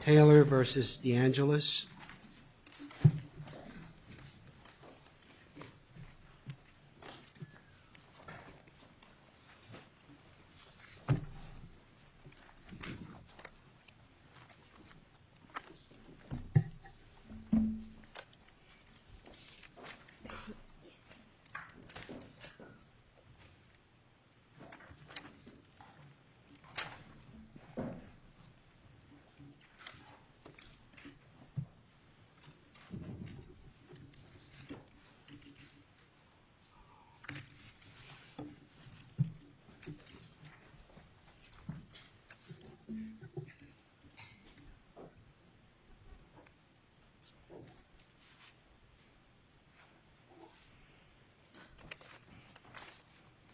Taylor v. Deangelis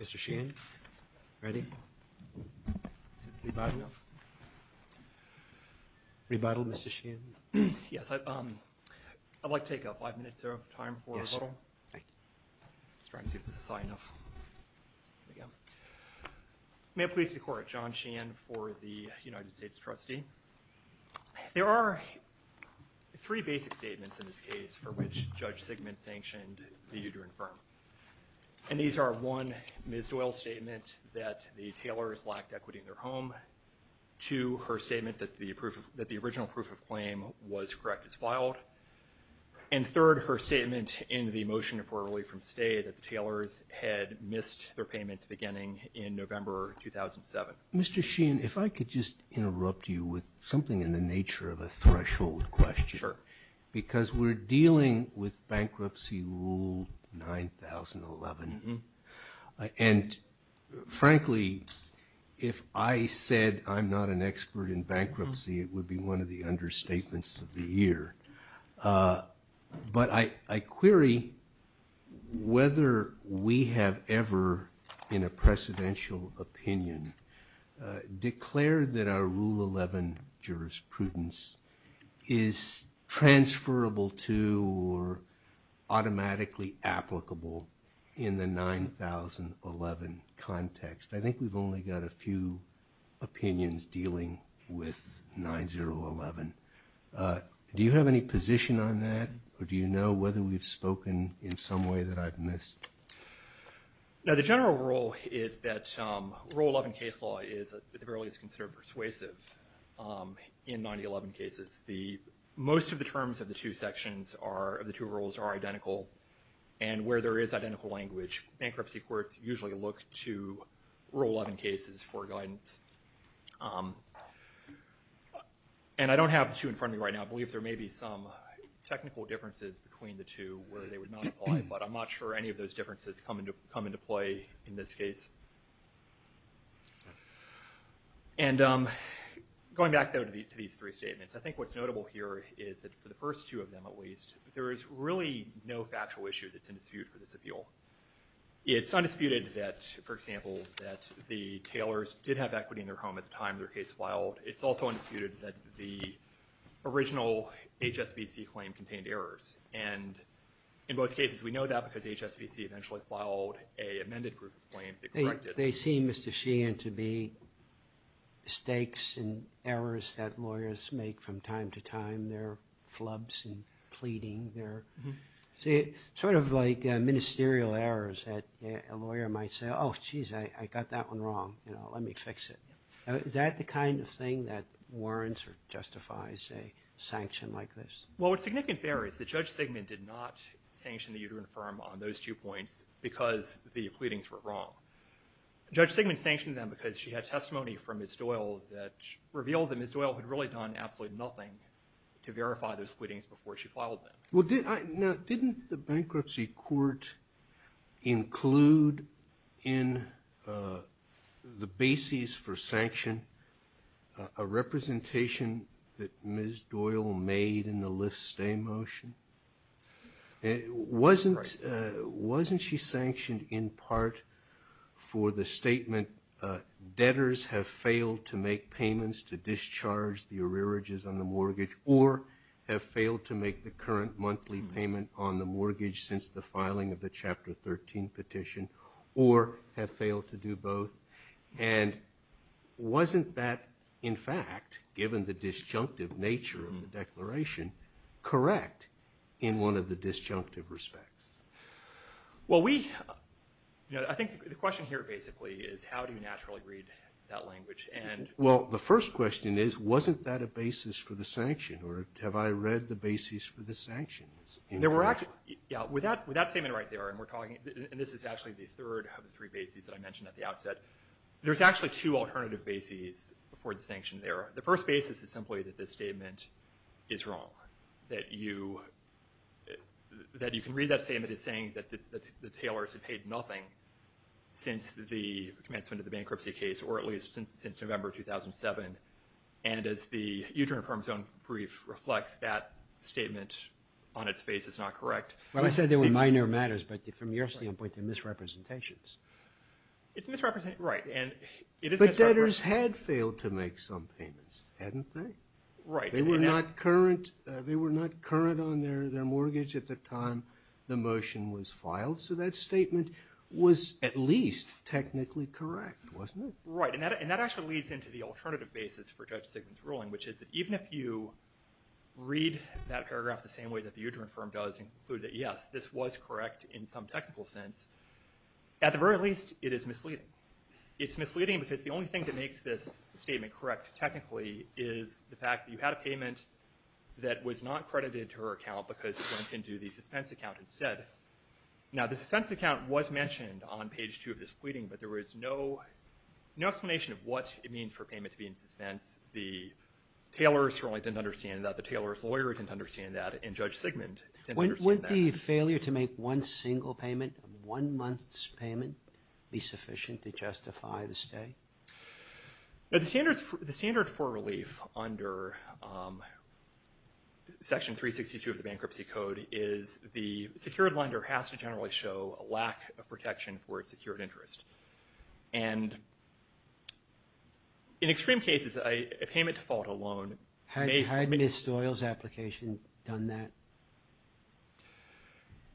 Mr Sheehan, ready? Revitalization? Yes, I'd like to take five minutes of time for a little. Yes, sir. Thank you. Just trying to see if this is high enough. Here we go. May it please the court, John Sheehan for the United States trustee. There are three basic statements in this case for which Judge Sigmund sanctioned the Udren firm. And these are one, Ms. Doyle's statement that the Taylors lacked equity in their home, two, her statement that the original proof of claim was correct as filed, and third, her statement in the motion for a relief from stay that the Taylors had missed their payments beginning in November 2007. Mr. Sheehan, if I could just interrupt you with something in the nature of a threshold question. Sure. Because we're dealing with bankruptcy rule 9,011. And frankly, if I said I'm not an expert in bankruptcy, it would be one of the understatements of the year. But I query whether we have ever, in a precedential opinion, declared that our rule 11 jurisprudence is transferable to or automatically applicable in the 9,011 context. I think we've only got a few opinions dealing with 9,011. Do you have any position on that? Or do you know whether we've spoken in some way that I've missed? No, the general rule is that rule 11 case law is at the very least considered persuasive in 9,011 cases. Most of the terms of the two sections, of the two rules, are identical. And where there is identical language, bankruptcy courts usually look to rule 11 cases for guidance. And I don't have the two in front of me right now. I believe there may be some technical differences between the two where they would not apply. But I'm not sure any of those differences come into play in this case. And going back, though, to these three statements, I think what's notable here is that for the first two of them, at least, there is really no factual issue that's in dispute for this appeal. It's undisputed that, for example, that the Taylors did have equity in their home at the time their case filed. It's also undisputed that the original HSBC claim contained errors. And in both cases, we know that because HSBC eventually filed a amended proof of claim They seem, Mr. Sheehan, to be mistakes and errors that lawyers make from time to time. They're flubs and pleading. They're sort of like ministerial errors that a lawyer might say, oh, jeez, I got that one wrong. Let me fix it. Is that the kind of thing that warrants or justifies a sanction like this? Well, what's significant there is the judge segment did not sanction the Uterine Firm on those two points because the pleadings were wrong. Judge Sigmund sanctioned them because she had testimony from Ms. Doyle that revealed that Ms. Doyle had really done absolutely nothing to verify those pleadings before she filed them. Well, now, didn't the bankruptcy court include in the basis for sanction a representation that Ms. Doyle made in the Lyft stay motion? Wasn't she sanctioned in part for the statement, debtors have failed to make payments to discharge the arrearages on the mortgage or have failed to make the current monthly payment on the mortgage since the filing of the Chapter 13 petition or have failed to do both? And wasn't that, in fact, given the disjunctive nature of the declaration, correct in one of the disjunctive respects? Well, we, you know, I think the question here basically is how do you naturally read that language and... Well, the first question is, wasn't that a basis for the sanction or have I read the basis for the sanctions? There were actually, yeah, with that statement right there and we're talking, and this is actually the third of the three bases that I mentioned at the outset. There's actually two alternative bases for the sanction there. The first basis is simply that this statement is wrong, that you can read that statement as saying that the tailors have paid nothing since the commencement of the bankruptcy case or at least since November 2007. And as the Uterine and Femur Zone Brief reflects, that statement on its face is not correct. Well, I said they were minor matters, but from your standpoint, they're misrepresentations. It's misrepresentations, right. And it is misrepresentations. But debtors had failed to make some payments, hadn't they? Right. They were not current, they were not current on their mortgage at the time the motion was filed. So that statement was at least technically correct, wasn't it? Right. And that actually leads into the alternative basis for Judge Sigmund's ruling, which is even if you read that paragraph the same way that the uterine firm does and conclude that, yes, this was correct in some technical sense, at the very least, it is misleading. It's misleading because the only thing that makes this statement correct technically is the fact that you had a payment that was not credited to her account because it went into the suspense account instead. Now the suspense account was mentioned on page two of this pleading, but there was no explanation of what it means for payment to be in suspense. The tailor certainly didn't understand that, the tailor's lawyer didn't understand that, and Judge Sigmund didn't understand that. Wouldn't the failure to make one single payment, one month's payment, be sufficient to justify the stay? Now the standard for relief under Section 362 of the Bankruptcy Code is the secured lender has to generally show a lack of protection for its secured interest. And in extreme cases, a payment default alone may— Had Ms. Stoyal's application done that?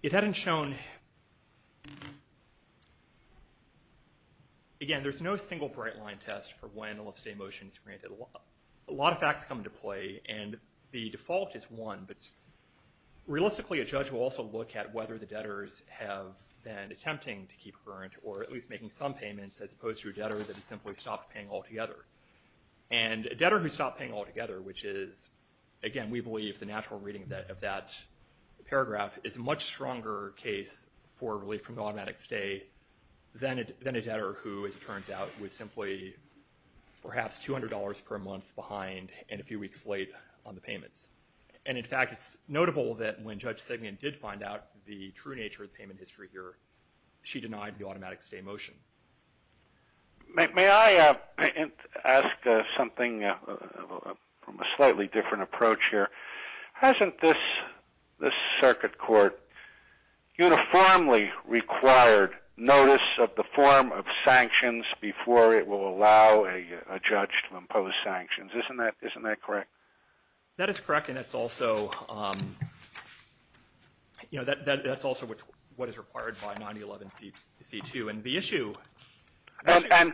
It hadn't shown—again, there's no single bright line test for when a lifestay motion is granted. A lot of facts come into play, and the default is one, but realistically a judge will also look at whether the debtors have been attempting to keep current or at least making some payments as opposed to a debtor that has simply stopped paying altogether. And a debtor who stopped paying altogether, which is, again, we believe the natural reading of that paragraph, is a much stronger case for relief from the automatic stay than a debtor who, as it turns out, was simply perhaps $200 per month behind and a few weeks late on the payments. And in fact, it's notable that when Judge Sigmund did find out the true nature of the payment history here, she denied the automatic stay motion. May I ask something from a slightly different approach here? Hasn't this circuit court uniformly required notice of the form of sanctions before it will allow a judge to impose sanctions? Isn't that correct? That is correct, and that's also, you know, that's also what is required by 9011C2. And the issue... And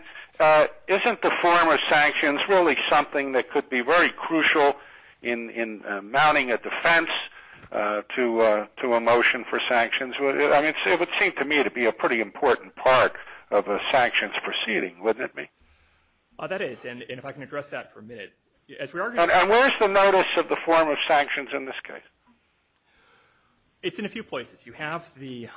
isn't the form of sanctions really something that could be very crucial in mounting a defense to a motion for sanctions? I mean, it would seem to me to be a pretty important part of a sanctions proceeding, wouldn't it be? That is, and if I can address that for a minute. And where's the notice of the form of sanctions in this case? It's in a few places. You have the, you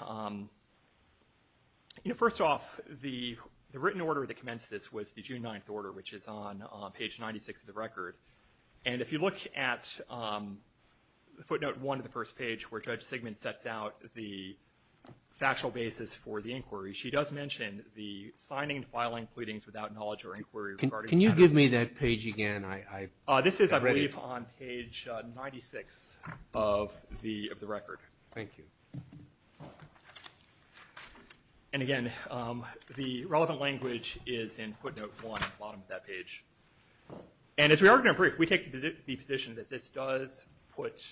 know, first off, the written order that commenced this was the June 9th order, which is on page 96 of the record. And if you look at footnote one of the first page where Judge Sigmund sets out the factual basis for the inquiry, she does mention the signing and filing pleadings without knowledge or inquiry regarding... Can you give me that page again? This is, I believe, on page 96 of the record. Thank you. And again, the relevant language is in footnote one at the bottom of that page. And as we are going to brief, we take the position that this does put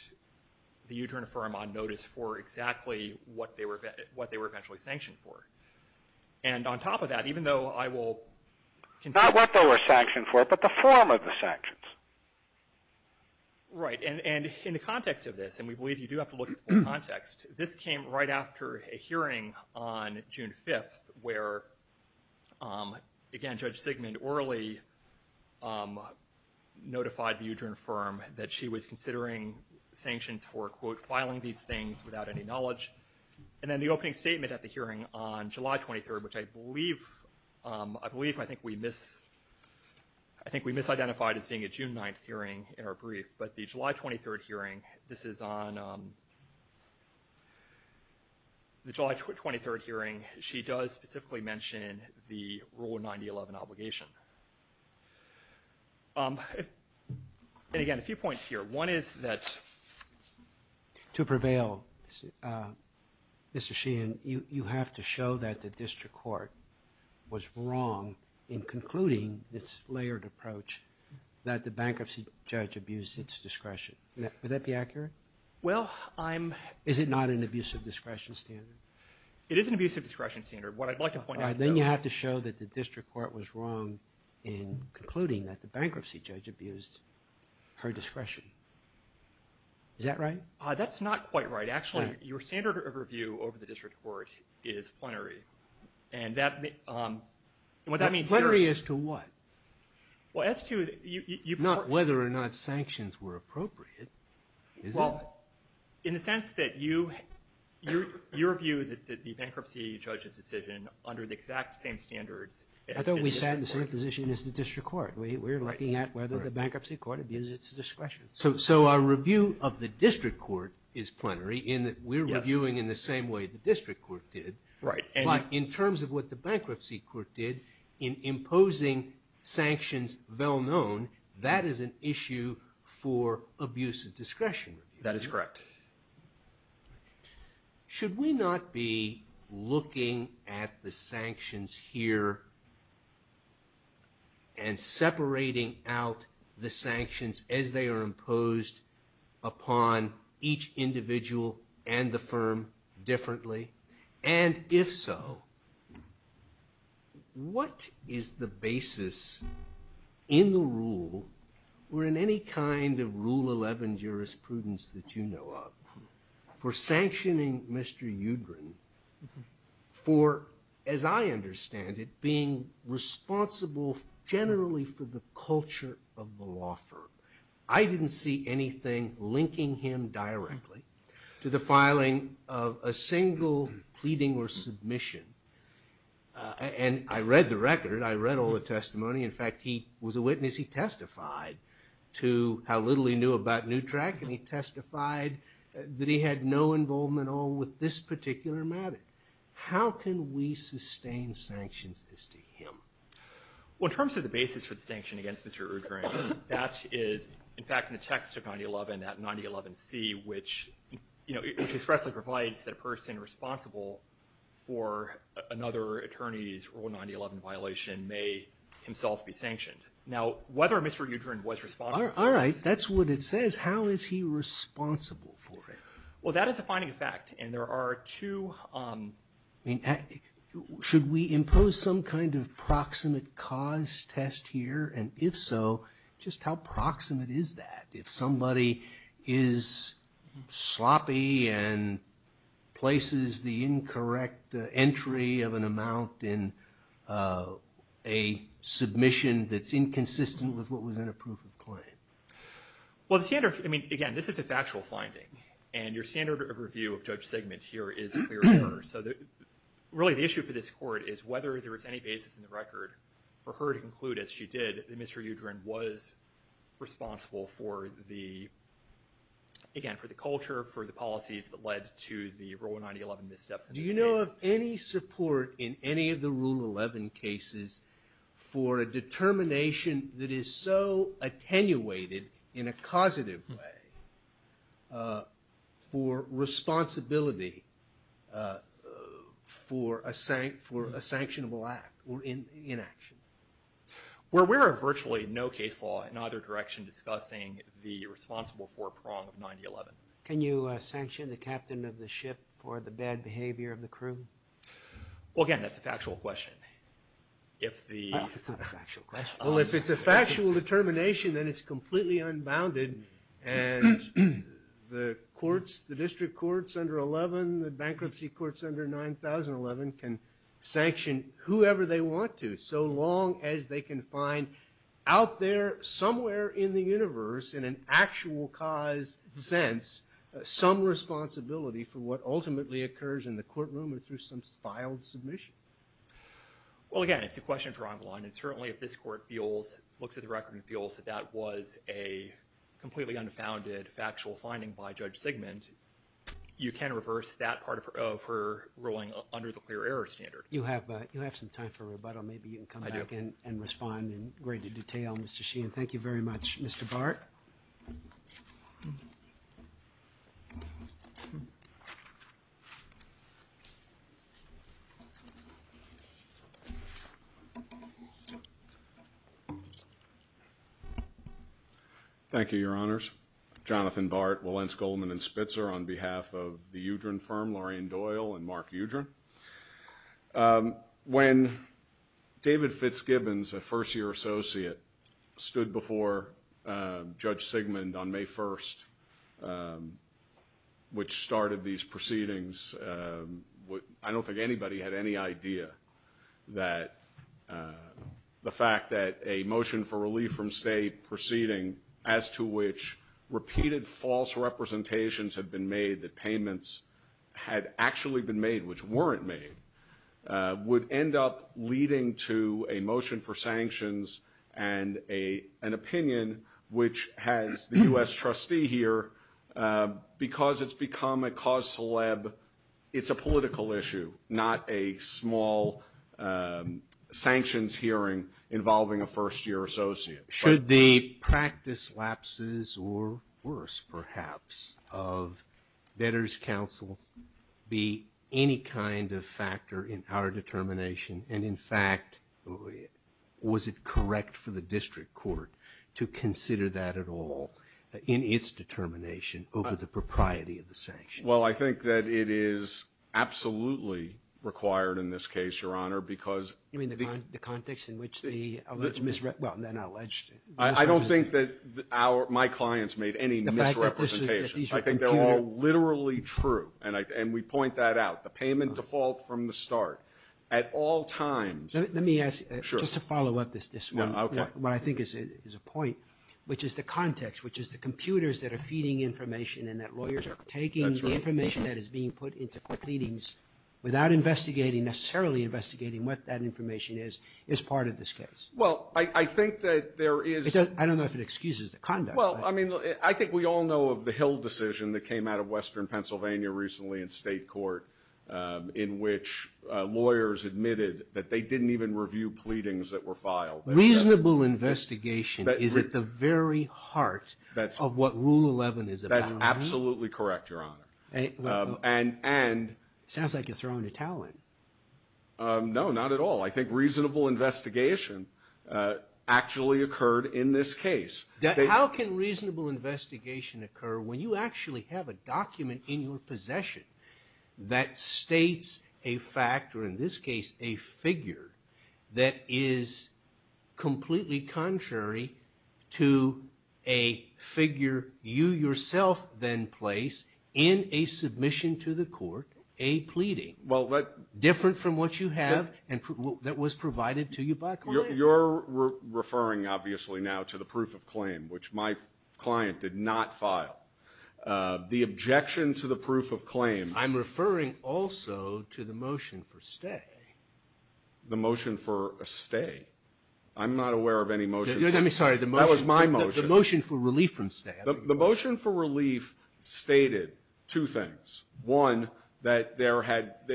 the Uterine Firm on notice for exactly what they were eventually sanctioned for. And on top of that, even though I will... Not what they were sanctioned for, but the form of the sanctions. Right. And in the context of this, and we believe you do have to look at the context, this came right after a hearing on June 5th where, again, Judge Sigmund orally notified the Uterine Firm that she was considering sanctions for, quote, filing these things without any knowledge. And then the opening statement at the hearing on July 23rd, which I believe I think we misidentified as being a June 9th hearing in our brief. But the July 23rd hearing, this is on the July 23rd hearing, she does specifically mention the Rule 9011 obligation. And again, a few points here. One is that... To prevail, Mr. Sheehan, you have to show that the district court was wrong in concluding this layered approach that the bankruptcy judge abused its discretion. Would that be accurate? Well, I'm... Is it not an abuse of discretion standard? It is an abuse of discretion standard. What I'd like to point out... Bankruptcy judge abused her discretion. Is that right? That's not quite right. Actually, your standard of review over the district court is plenary. And that... And what that means here... Plenary as to what? Well, as to... Not whether or not sanctions were appropriate, is it? Well, in the sense that your view that the bankruptcy judge's decision under the exact same standards... I thought we sat in the same position as the district court. We're looking at whether the bankruptcy court abuses its discretion. So our review of the district court is plenary in that we're reviewing in the same way the district court did. Right. But in terms of what the bankruptcy court did in imposing sanctions well known, that is an issue for abuse of discretion. That is correct. Okay. Should we not be looking at the sanctions here and separating out the sanctions as they are imposed upon each individual and the firm differently? And if so, what is the basis in the rule or in any kind of Rule 11 jurisprudence that you know of for sanctioning Mr. Udren for, as I understand it, being responsible generally for the culture of the law firm? I didn't see anything linking him directly to the filing of a single pleading or submission. And I read the record. I read all the testimony. In fact, he was a witness. He testified to how little he knew about NUTRAC and he testified that he had no involvement at all with this particular matter. How can we sustain sanctions as to him? Well, in terms of the basis for the sanction against Mr. Udren, that is, in fact, in the text of 9011, that 9011C, which, you know, which expressly provides that a person responsible for another attorney's Rule 9011 violation may himself be sanctioned. Now, whether Mr. Udren was responsible for this. All right. That's what it says. How is he responsible for it? Well, that is a finding of fact. And there are two. Should we impose some kind of proximate cause test here? And if so, just how proximate is that? If somebody is sloppy and places the incorrect entry of an amount in a submission that's inconsistent with what was in a proof of claim? Well, the standard, I mean, again, this is a factual finding. And your standard of review of Judge Sigmund here is clear. So really, the issue for this court is whether there is any basis in the record for her to Mr. Udren was responsible for the, again, for the culture, for the policies that led to the Rule 9011 missteps in this case. Do you know of any support in any of the Rule 11 cases for a determination that is so attenuated in a causative way for responsibility for a sanctionable act or inaction? Well, we are virtually no case law in either direction discussing the responsible four-prong of 9011. Can you sanction the captain of the ship for the bad behavior of the crew? Well, again, that's a factual question. If the... It's not a factual question. Well, if it's a factual determination, then it's completely unbounded and the courts, the district courts under 11, the bankruptcy courts under 9011 can sanction whoever they want to so long as they can find out there somewhere in the universe in an actual cause sense some responsibility for what ultimately occurs in the courtroom or through some filed submission. Well, again, it's a question of drawing the line and certainly if this court feels, looks at the record and feels that that was a completely unfounded factual finding by Judge Sigmund, you can reverse that part of her ruling under the clear error standard. You have some time for rebuttal, maybe you can come back and respond in greater detail, Mr. Sheehan. Thank you very much. Mr. Bart? Thank you, Your Honors. Jonathan Bart, Wilentz, Goldman, and Spitzer on behalf of the Udren firm, Lorraine Doyle and Mark Udren. When David Fitzgibbons, a first-year associate, stood before Judge Sigmund on May 1st, which started these proceedings, I don't think anybody had any idea that the fact that a motion for relief from state proceeding as to which repeated false representations had been made, that payments had actually been made, which weren't made, would end up leading to a motion for sanctions and an opinion which has the U.S. trustee here, because it's become a cause celeb, it's a political issue, not a small sanctions hearing involving a first-year associate. Should the practice lapses, or worse perhaps, of debtors' counsel be any kind of factor in our determination, and in fact, was it correct for the district court to consider that at all in its determination over the propriety of the sanctions? Well, I think that it is absolutely required in this case, Your Honor, because You mean the context in which the alleged misrepresentation? I don't think that my clients made any misrepresentations. I think they're all literally true, and we point that out. The payment default from the start, at all times. Let me ask, just to follow up this one, what I think is a point, which is the context, which is the computers that are feeding information and that lawyers are taking the information that is being put into pleadings without investigating, necessarily investigating what that information is, is part of this case? Well, I think that there is... I don't know if it excuses the conduct. Well, I mean, I think we all know of the Hill decision that came out of Western Pennsylvania recently in state court, in which lawyers admitted that they didn't even review pleadings that were filed. Reasonable investigation is at the very heart of what Rule 11 is about. That's absolutely correct, Your Honor. And... Sounds like you're throwing a towel in. No, not at all. I think reasonable investigation actually occurred in this case. How can reasonable investigation occur when you actually have a document in your possession that states a fact, or in this case, a figure, that is completely contrary to a figure you yourself then place in a submission to the court, a pleading? Well, that... Different from what you have, and that was provided to you by a client. You're referring, obviously, now to the proof of claim, which my client did not file. The objection to the proof of claim... I'm referring also to the motion for stay. The motion for a stay? I'm not aware of any motion for... Let me... Sorry, the motion... That was my motion. The motion for relief from stay. The motion for relief stated two things. One, that there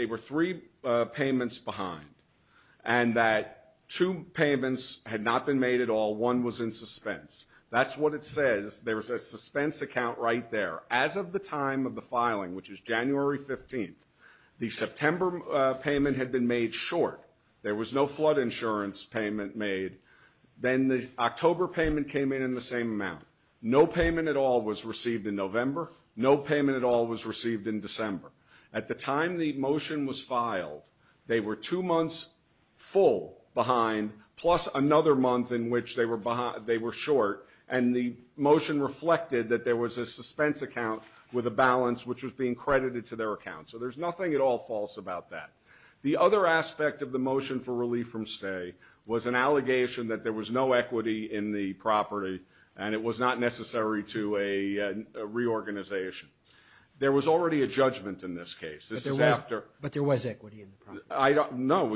were three payments behind, and that two payments had not been made at all. One was in suspense. That's what it says. There's a suspense account right there. As of the time of the filing, which is January 15th, the September payment had been made short. There was no flood insurance payment made. Then the October payment came in in the same amount. No payment at all was received in November. No payment at all was received in December. At the time the motion was filed, they were two months full behind, plus another month in which they were short, and the motion reflected that there was a suspense account with a balance which was being credited to their account. So there's nothing at all false about that. The other aspect of the motion for relief from stay was an allegation that there was no equity in the property, and it was not necessary to a reorganization. There was already a judgment in this case. This is after- But there was equity in the property. No.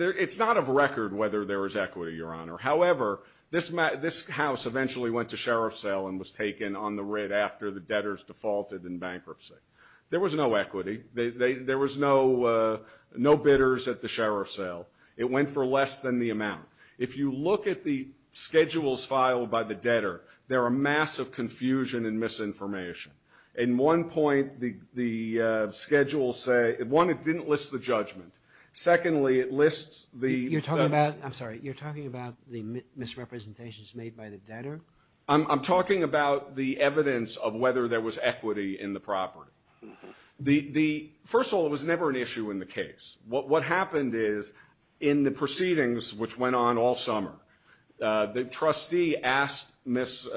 It's not of record whether there was equity, Your Honor. However, this house eventually went to sheriff's sale and was taken on the writ after the debtors defaulted in bankruptcy. There was no equity. There was no bidders at the sheriff's sale. It went for less than the amount. If you look at the schedules filed by the debtor, there are massive confusion and misinformation. In one point, the schedules say, one, it didn't list the judgment. Secondly, it lists the- You're talking about, I'm sorry, you're talking about the misrepresentations made by the debtor? I'm talking about the evidence of whether there was equity in the property. First of all, it was never an issue in the case. What happened is, in the proceedings, which went on all summer, the trustee asked Ms.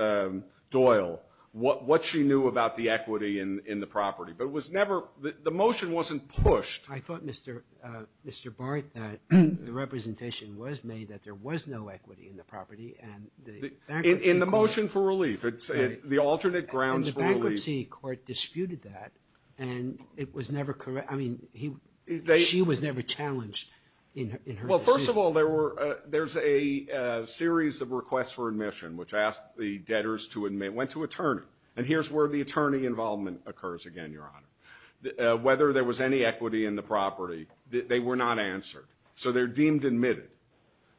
Doyle what she knew about the equity in the property, but it was never, the motion wasn't pushed. I thought, Mr. Barth, that the representation was made that there was no equity in the property, and the bankruptcy court- In the motion for relief, the alternate grounds for relief- And the bankruptcy court disputed that, and it was never corrected. I mean, she was never challenged in her decision. Well, first of all, there's a series of requests for admission, which asked the debtors to admit, went to attorney, and here's where the attorney involvement occurs again, Your Honor. Whether there was any equity in the property, they were not answered, so they're deemed admitted.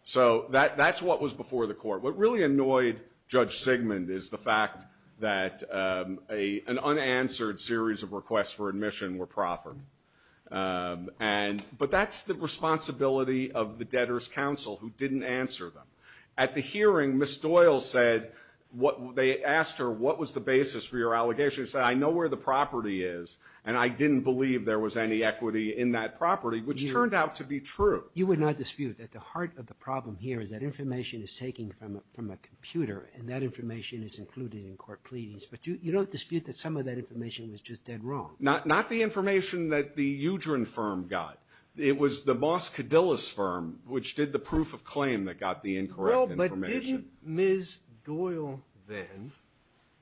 So that's what was before the court. What really annoyed Judge Sigmund is the fact that an unanswered series of requests for admission were proffered. But that's the responsibility of the debtors' counsel, who didn't answer them. At the hearing, Ms. Doyle said, they asked her, what was the basis for your allegation? She said, I know where the property is, and I didn't believe there was any equity in that property, which turned out to be true. You would not dispute that the heart of the problem here is that information is taken from a computer, and that information is included in court pleadings, but you don't dispute that some of that information was just dead wrong? Not the information that the Udren firm got. It was the Moss Cadillus firm, which did the proof of claim that got the incorrect information. But didn't Ms. Doyle then,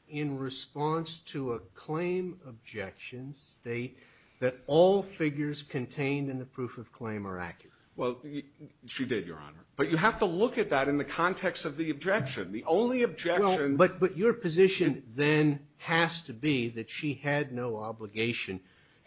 in response to a claim objection, state that all figures contained in the proof of claim are accurate? Well, she did, Your Honor. But you have to look at that in the context of the objection. The only objection- But your position then has to be that she had no obligation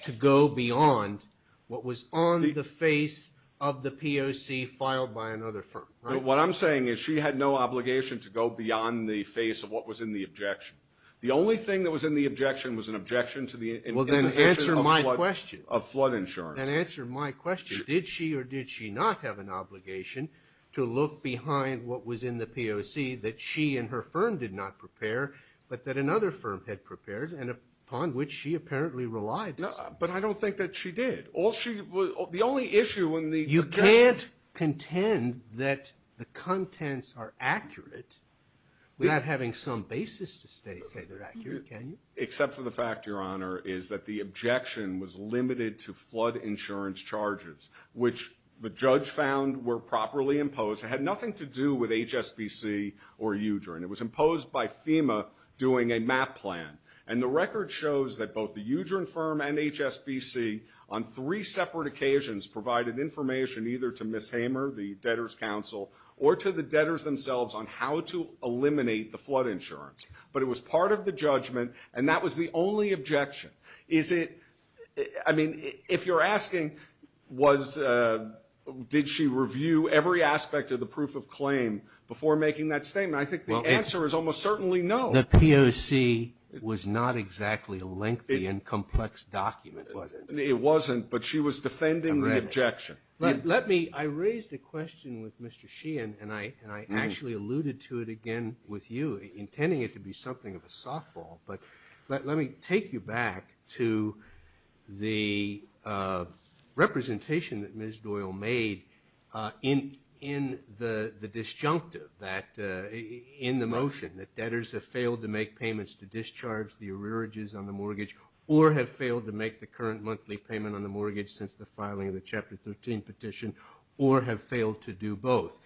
to go beyond what was on the face of the POC filed by another firm, right? What I'm saying is she had no obligation to go beyond the face of what was in the objection. The only thing that was in the objection was an objection to the- Well, then answer my question. Of flood insurance. Then answer my question. Did she or did she not have an obligation to look behind what was in the POC that she and her firm did not prepare, but that another firm had prepared, and upon which she apparently relied? But I don't think that she did. The only issue in the- You can't contend that the contents are accurate without having some basis to say they're accurate, can you? Except for the fact, Your Honor, is that the objection was limited to flood insurance charges, which the judge found were properly imposed. It had nothing to do with HSBC or UJRA, and it was imposed by FEMA doing a MAP plan. And the record shows that both the UJRA firm and HSBC, on three separate occasions, provided information either to Ms. Hamer, the debtors' counsel, or to the debtors themselves on how to eliminate the flood insurance. But it was part of the judgment, and that was the only objection. Is it- I mean, if you're asking, did she review every aspect of the proof of claim before making that statement, I think the answer is almost certainly no. The POC was not exactly a lengthy and complex document, was it? It wasn't, but she was defending the objection. Let me- I raised a question with Mr. Sheehan, and I actually alluded to it again with you, intending it to be something of a softball, but let me take you back to the representation that Ms. Doyle made in the disjunctive, in the motion that debtors have failed to make payments to discharge the arrearages on the mortgage, or have failed to make the current monthly payment on the mortgage since the filing of the Chapter 13 petition, or have failed to do both.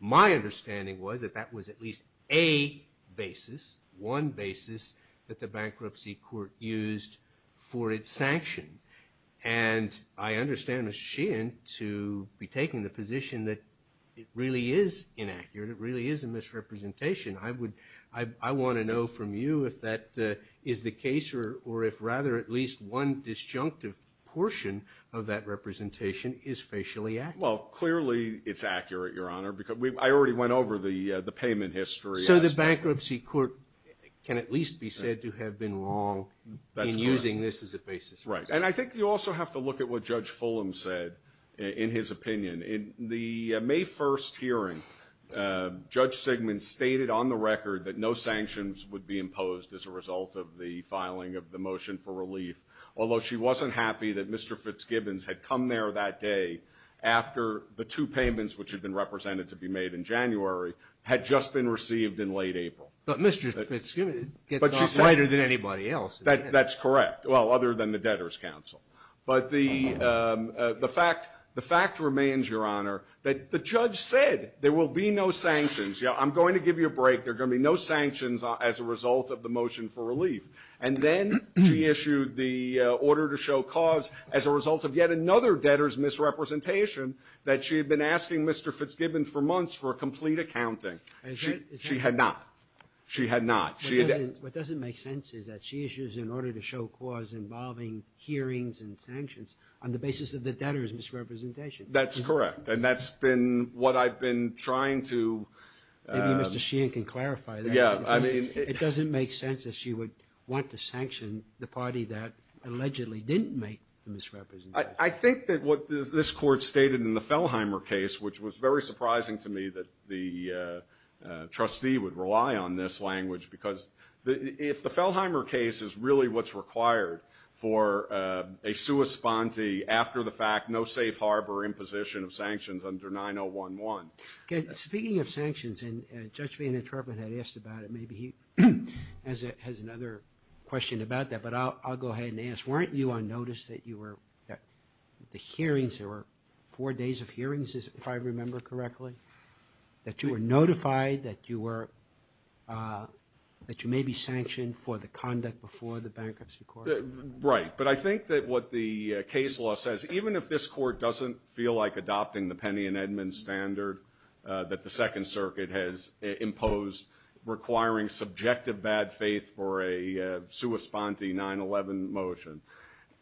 My understanding was that that was at least a basis, one basis, that the bankruptcy court used for its sanction. And I understand Ms. Sheehan to be taking the position that it really is inaccurate, it really is a misrepresentation. I would- I want to know from you if that is the case, or if rather at least one disjunctive portion of that representation is facially accurate. Well, clearly it's accurate, Your Honor, because we- I already went over the payment history. So the bankruptcy court can at least be said to have been wrong in using this as a basis. Right. And I think you also have to look at what Judge Fulham said in his opinion. In the May 1st hearing, Judge Sigmund stated on the record that no sanctions would be imposed as a result of the filing of the motion for relief, although she wasn't happy that Mr. Fitzgibbons had come there that day after the two payments, which had been represented to be made in January, had just been received in late April. But Mr. Fitzgibbons gets off lighter than anybody else. That's correct. Well, other than the Debtors' Council. But the fact remains, Your Honor, that the judge said there will be no sanctions. Yeah, I'm going to give you a break. There are going to be no sanctions as a result of the motion for relief. And then she issued the order to show cause as a result of yet another debtors' misrepresentation that she had been asking Mr. Fitzgibbons for months for a complete accounting. She had not. She had not. What doesn't make sense is that she issues an order to show cause involving hearings and sanctions on the basis of the debtors' misrepresentation. That's correct. And that's been what I've been trying to... Maybe Mr. Sheehan can clarify that. Yeah, I mean... It doesn't make sense that she would want to sanction the party that allegedly didn't make the misrepresentation. I think that what this Court stated in the Fellheimer case, which was very surprising to me that the trustee would rely on this language, because if the Fellheimer case is really what's required for a sua sponte after the fact, no safe harbor imposition of sanctions under 9011... Okay, speaking of sanctions, and Judge Vanden Troepen had asked about it. Maybe he has another question about that, but I'll go ahead and ask. Weren't you on notice that you were... The hearings, there were four days of hearings, if I remember correctly, that you were notified that you may be sanctioned for the conduct before the Bankruptcy Court? Right, but I think that what the case law says, even if this Court doesn't feel like adopting the Penny and Edmund standard that the Second Circuit has imposed, requiring subjective bad faith for a sua sponte 9-11 motion,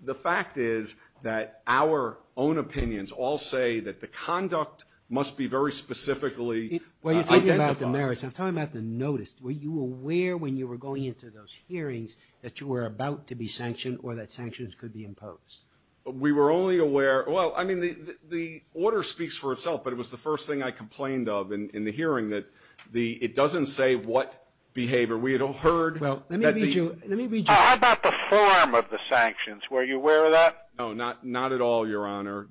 the fact is that our own opinions all say that the conduct must be very specifically identified. Well, you're talking about the merits. I'm talking about the notice. Were you aware when you were going into those hearings that you were about to be sanctioned or that sanctions could be imposed? We were only aware... Well, I mean, the order speaks for itself, but it was the first thing I complained of in the hearing, that it doesn't say what behavior. We had heard... Well, let me read you... How about the form of the sanctions? Were you aware of that? No, not at all, Your Honor.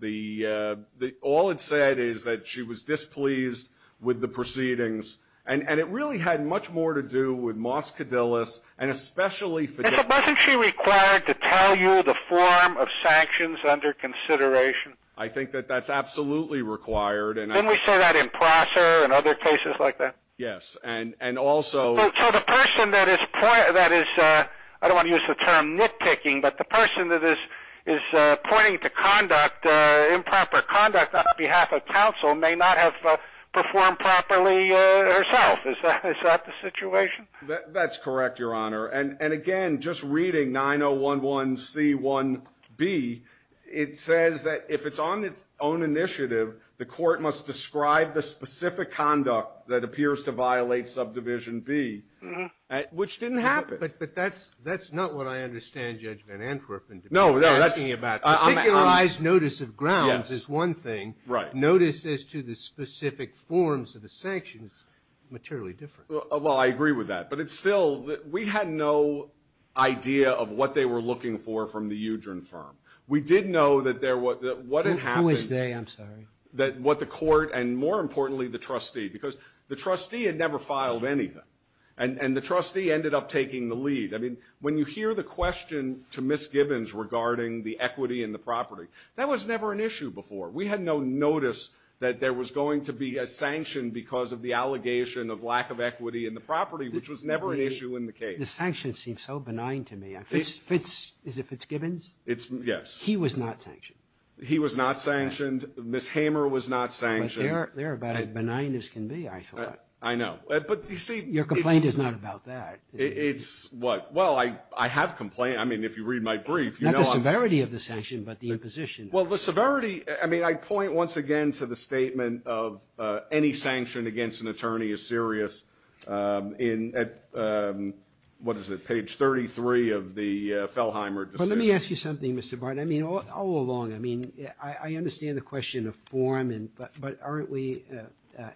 All it said is that she was displeased with the proceedings, and it really had much more to do with Moss Cadillus and especially... And so wasn't she required to tell you the form of sanctions under consideration? I think that that's absolutely required, and... Didn't we say that in Prosser and other cases like that? Yes, and also... So the person that is... I don't want to use the term nitpicking, but the person that is pointing to improper conduct on behalf of counsel may not have performed properly herself. Is that the situation? That's correct, Your Honor. And again, just reading 9011C1B, it says that if it's on its own initiative, the court must describe the specific conduct that appears to violate Subdivision B, which didn't happen. But that's not what I understand Judge Van Antwerpen to be asking about. Particularized notice of grounds is one thing. Right. Notice as to the specific forms of the sanctions is materially different. Well, I agree with that, but it's still... We had no idea of what they were looking for from the Udren firm. We did know that there was... Who is they? I'm sorry. That what the court, and more importantly, the trustee, because the trustee had never filed anything, and the trustee ended up taking the lead. I mean, when you hear the question to Ms. Gibbons regarding the equity in the property, that was never an issue before. We had no notice that there was going to be a sanction because of the allegation of lack of equity in the property, which was never an issue in the case. The sanctions seem so benign to me. Fitz... Is it Fitzgibbons? Yes. He was not sanctioned. He was not sanctioned. Ms. Hamer was not sanctioned. They're about as benign as can be, I thought. I know. But you see... Your complaint is not about that. It's what? Well, I have complained. I mean, if you read my brief... Not the severity of the sanction, but the imposition. Well, the severity... I mean, I point once again to the statement of any sanction against an attorney is serious in... What is it? Page 33 of the Fellheimer decision. Let me ask you something, Mr. Barton. I mean, all along, I mean, I understand the question of form, but aren't we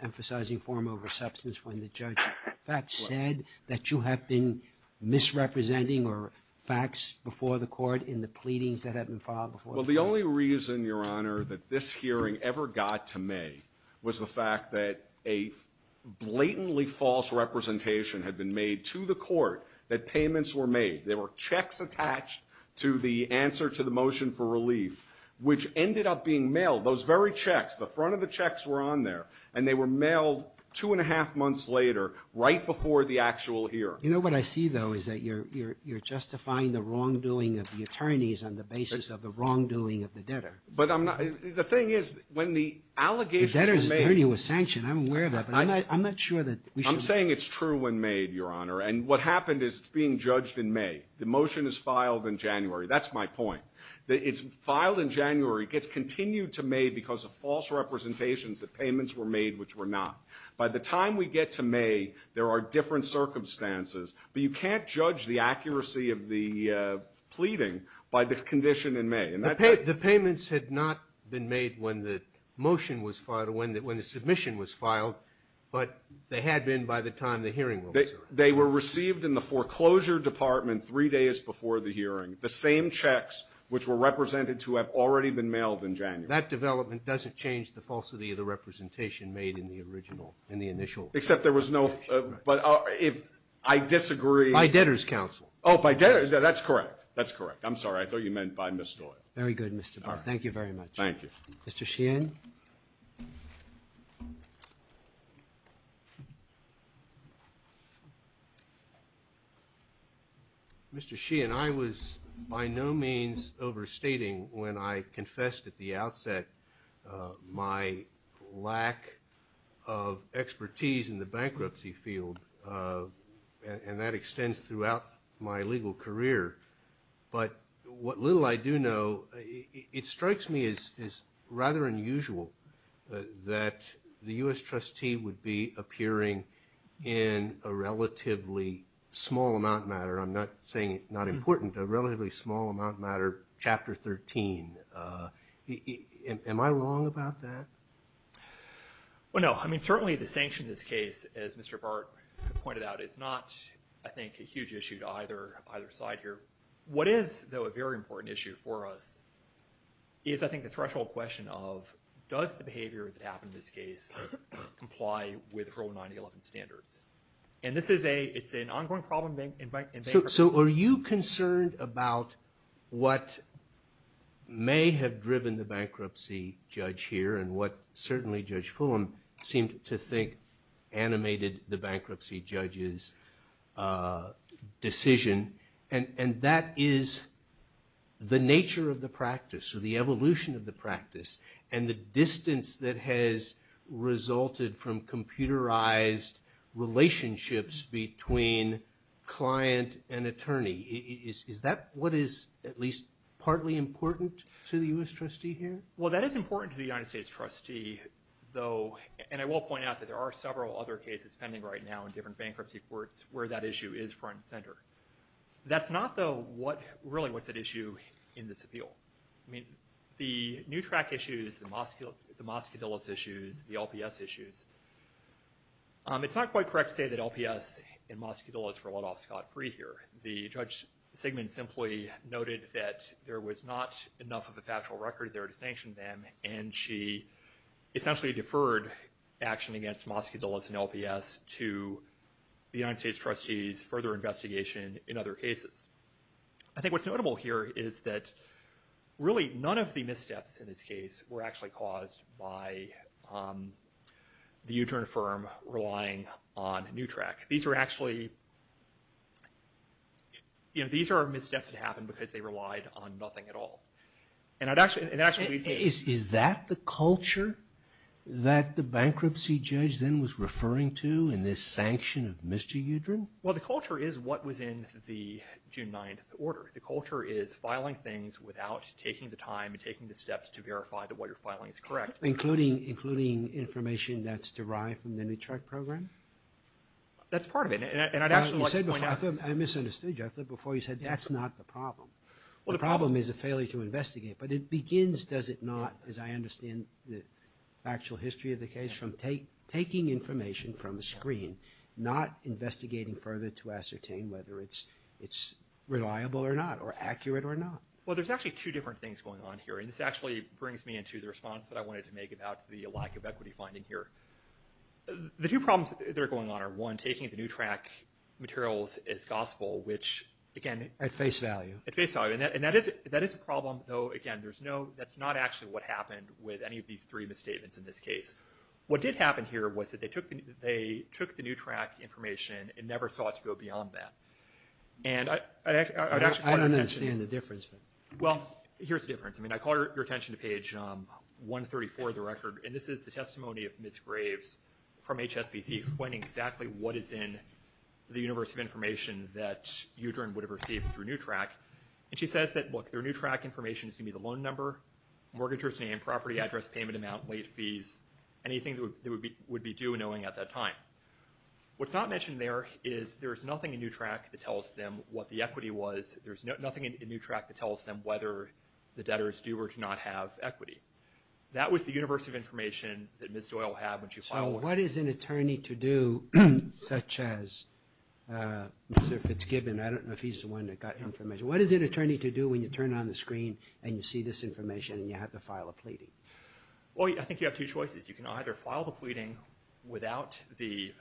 emphasizing form over substance when the judge in fact said that you have been misrepresenting or facts before the court in the pleadings that have been filed before the court? Well, the only reason, Your Honor, that this hearing ever got to May was the fact that a blatantly false representation had been made to the court that payments were made. There were checks attached to the answer to the motion for relief, which ended up being mailed. Those very checks, the front of the checks were on there, and they were mailed two and a half months later, right before the actual hearing. You know what I see, though, is that you're justifying the wrongdoing of the attorneys on the basis of the wrongdoing of the debtor. But I'm not... The thing is, when the allegations were made... The debtor's attorney was sanctioned. I'm aware of that, but I'm not sure that we should... I'm saying it's true when made, Your Honor. And what happened is it's being judged in May. The motion is filed in January. That's my point. It's filed in January. It gets continued to May because of false representations that payments were made, which were not. By the time we get to May, there are different circumstances, but you can't judge the accuracy of the pleading by the condition in May. The payments had not been made when the motion was filed, when the submission was filed, but they had been by the time the hearing was over. They were received in the foreclosure department three days before the hearing, the same checks which were represented to have already been mailed in January. That development doesn't change the falsity of the representation made in the original, in the initial... Except there was no... But if I disagree... By debtor's counsel. Oh, by debtor's... That's correct. That's correct. I'm sorry. I thought you meant by Ms. Stoyer. Very good, Mr. Barth. Thank you very much. Thank you. Mr. Sheehan. Mr. Sheehan, I was by no means overstating when I confessed at the outset my lack of expertise in the bankruptcy field, and that extends throughout my legal career. But what little I do know, it strikes me as rather unusual that the U.S. trustee would be appearing in a relatively small amount matter, I'm not saying not important, a relatively small amount matter, Chapter 13. Am I wrong about that? Well, no. I mean, certainly the sanction in this case, as Mr. Barth pointed out, is not, I think, a huge issue to either side here. It's like a threshold question of, does the behavior that happened in this case comply with Rule 9011 standards? And this is a, it's an ongoing problem in bankruptcy. So are you concerned about what may have driven the bankruptcy judge here, and what certainly Judge Fulham seemed to think animated the bankruptcy judge's decision? And that is the nature of the practice, or the evolution of the practice, and the distance that has resulted from computerized relationships between client and attorney. Is that what is at least partly important to the U.S. trustee here? Well, that is important to the United States trustee, though, and I will point out that there are several other cases pending right now in different bankruptcy courts where that issue is front and center. That's not, though, really what's at issue in this appeal. I mean, the new track issues, the Moscadillas issues, the LPS issues, it's not quite correct to say that LPS and Moscadillas were let off scot-free here. The Judge Sigmund simply noted that there was not enough of a factual record there to sanction them, and she essentially deferred action against Moscadillas and LPS to the United States trustees' further investigation in other cases. I think what's notable here is that, really, none of the missteps in this case were actually caused by the U-Turn firm relying on new track. These were actually, you know, these are missteps that happened because they relied on nothing at all. And it actually leads me to... Is that the culture that the bankruptcy judge then was referring to in this sanction of Mr. U-Turn? Well, the culture is what was in the June 9th order. The culture is filing things without taking the time and taking the steps to verify that what you're filing is correct. Including information that's derived from the new track program? That's part of it, and I'd actually like to point out... I misunderstood you. I thought before you said that's not the problem. The problem is a failure to investigate. But it begins, does it not, as I understand the factual history of the case, from taking information from a screen, not investigating further to ascertain whether it's reliable or not, or accurate or not? Well, there's actually two different things going on here, and this actually brings me into the response that I wanted to make about the lack of equity finding here. The two problems that are going on are, one, taking the new track materials as gospel, which, again... At face value. At face value. And that is a problem, though, again, that's not actually what happened with any of these three misstatements in this case. What did happen here was that they took the new track information and never saw it to go beyond that. And I'd actually... I don't understand the difference. Well, here's the difference. I mean, I call your attention to page 134 of the record, and this is the testimony of Ms. Graves from HSBC, explaining exactly what is in the universe of information that Udren would have received through new track. And she says that, look, their new track information is going to be the loan number, mortgages name, property address, payment amount, late fees, anything that would be due knowing at that time. What's not mentioned there is there's nothing in new track that tells them what the equity was. There's nothing in new track that tells them whether the debtor is due or do not have equity. That was the universe of information that Ms. Doyle had when she filed... So what is an attorney to do, such as Mr. Fitzgibbon? I don't know if he's the one that got information. What is an attorney to do when you turn on the screen and you see this information and you have to file a pleading? Well, I think you have two choices. You can either file the pleading without the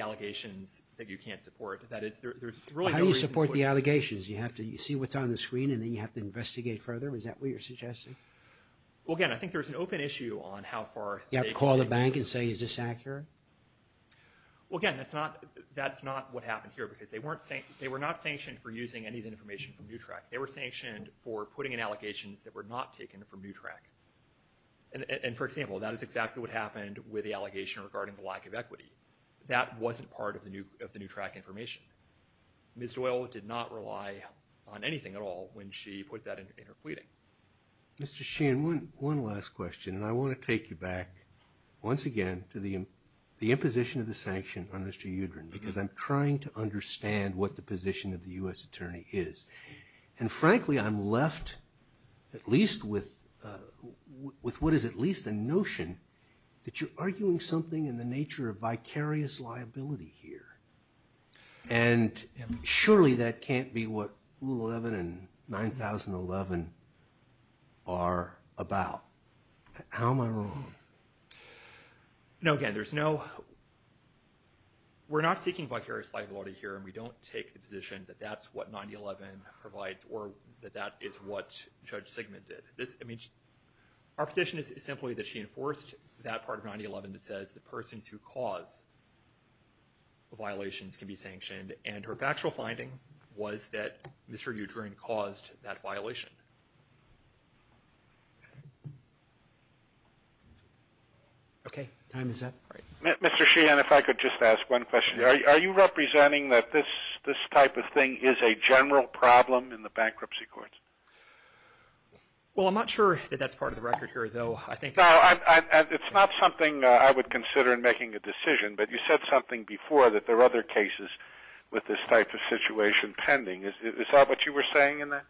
allegations that you can't support. That is, there's really no reason... How do you support the allegations? You have to see what's on the screen and then you have to investigate further? Is that what you're suggesting? Well, again, I think there's an open issue on how far... You have to call the bank and say, is this accurate? Well, again, that's not what happened here because they were not sanctioned for using any of the information from NUTRAC. They were sanctioned for putting in allegations that were not taken from NUTRAC. And, for example, that is exactly what happened with the allegation regarding the lack of equity. That wasn't part of the NUTRAC information. Ms. Doyle did not rely on anything at all when she put that in her pleading. Mr. Sheehan, one last question, and I want to take you back once again to the imposition of the sanction on Mr. Udren, because I'm trying to understand what the position of the U.S. attorney is. And, frankly, I'm left at least with what is at least a notion that you're arguing something in the nature of vicarious liability here. And surely that can't be what Rule 11 and 9011 are about. How am I wrong? No, again, there's no—we're not seeking vicarious liability here, and we don't take the position that that's what 9011 provides or that that is what Judge Sigmund did. Our position is simply that she enforced that part of 9011 that says the persons who cause violations can be sanctioned, and her factual finding was that Mr. Udren caused that violation. Okay, time is up. Mr. Sheehan, if I could just ask one question. Are you representing that this type of thing is a general problem in the bankruptcy courts? Well, I'm not sure that that's part of the record here, though. It's not something I would consider in making a decision, but you said something before that there are other cases with this type of situation pending. Is that what you were saying in that?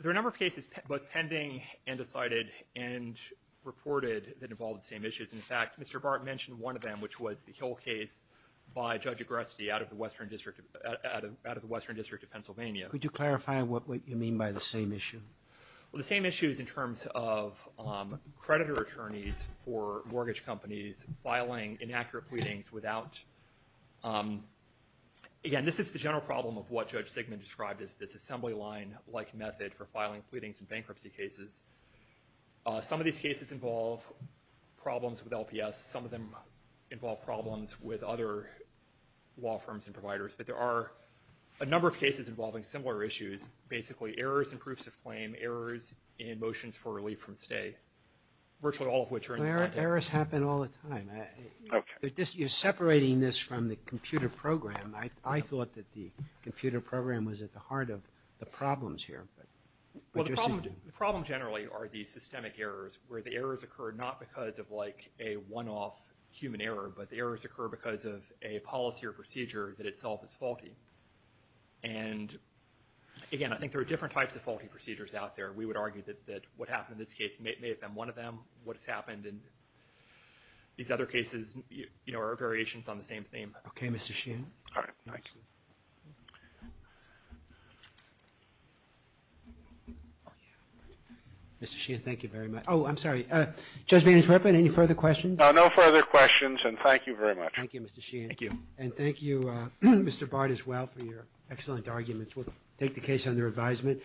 There are a number of cases both pending and decided and reported that involve the same issues. In fact, Mr. Barton mentioned one of them, which was the Hill case by Judge Agresti out of the Western District of Pennsylvania. Could you clarify what you mean by the same issue? Well, the same issue is in terms of creditor attorneys for mortgage companies filing inaccurate pleadings without— for filing pleadings in bankruptcy cases. Some of these cases involve problems with LPS. Some of them involve problems with other law firms and providers. But there are a number of cases involving similar issues, basically errors in proofs of claim, errors in motions for relief from stay, virtually all of which are— Errors happen all the time. Okay. You're separating this from the computer program. I thought that the computer program was at the heart of the problems here. Well, the problem generally are the systemic errors where the errors occur not because of like a one-off human error, but the errors occur because of a policy or procedure that itself is faulty. And again, I think there are different types of faulty procedures out there. We would argue that what happened in this case may have been one of them. What has happened in these other cases are variations on the same theme. Okay, Mr. Sheehan. All right. Thank you. Mr. Sheehan, thank you very much. Oh, I'm sorry. Judge Vanden Heuvel, any further questions? No further questions, and thank you very much. Thank you, Mr. Sheehan. Thank you. And thank you, Mr. Bart, as well, for your excellent arguments. We'll take the case under advisement.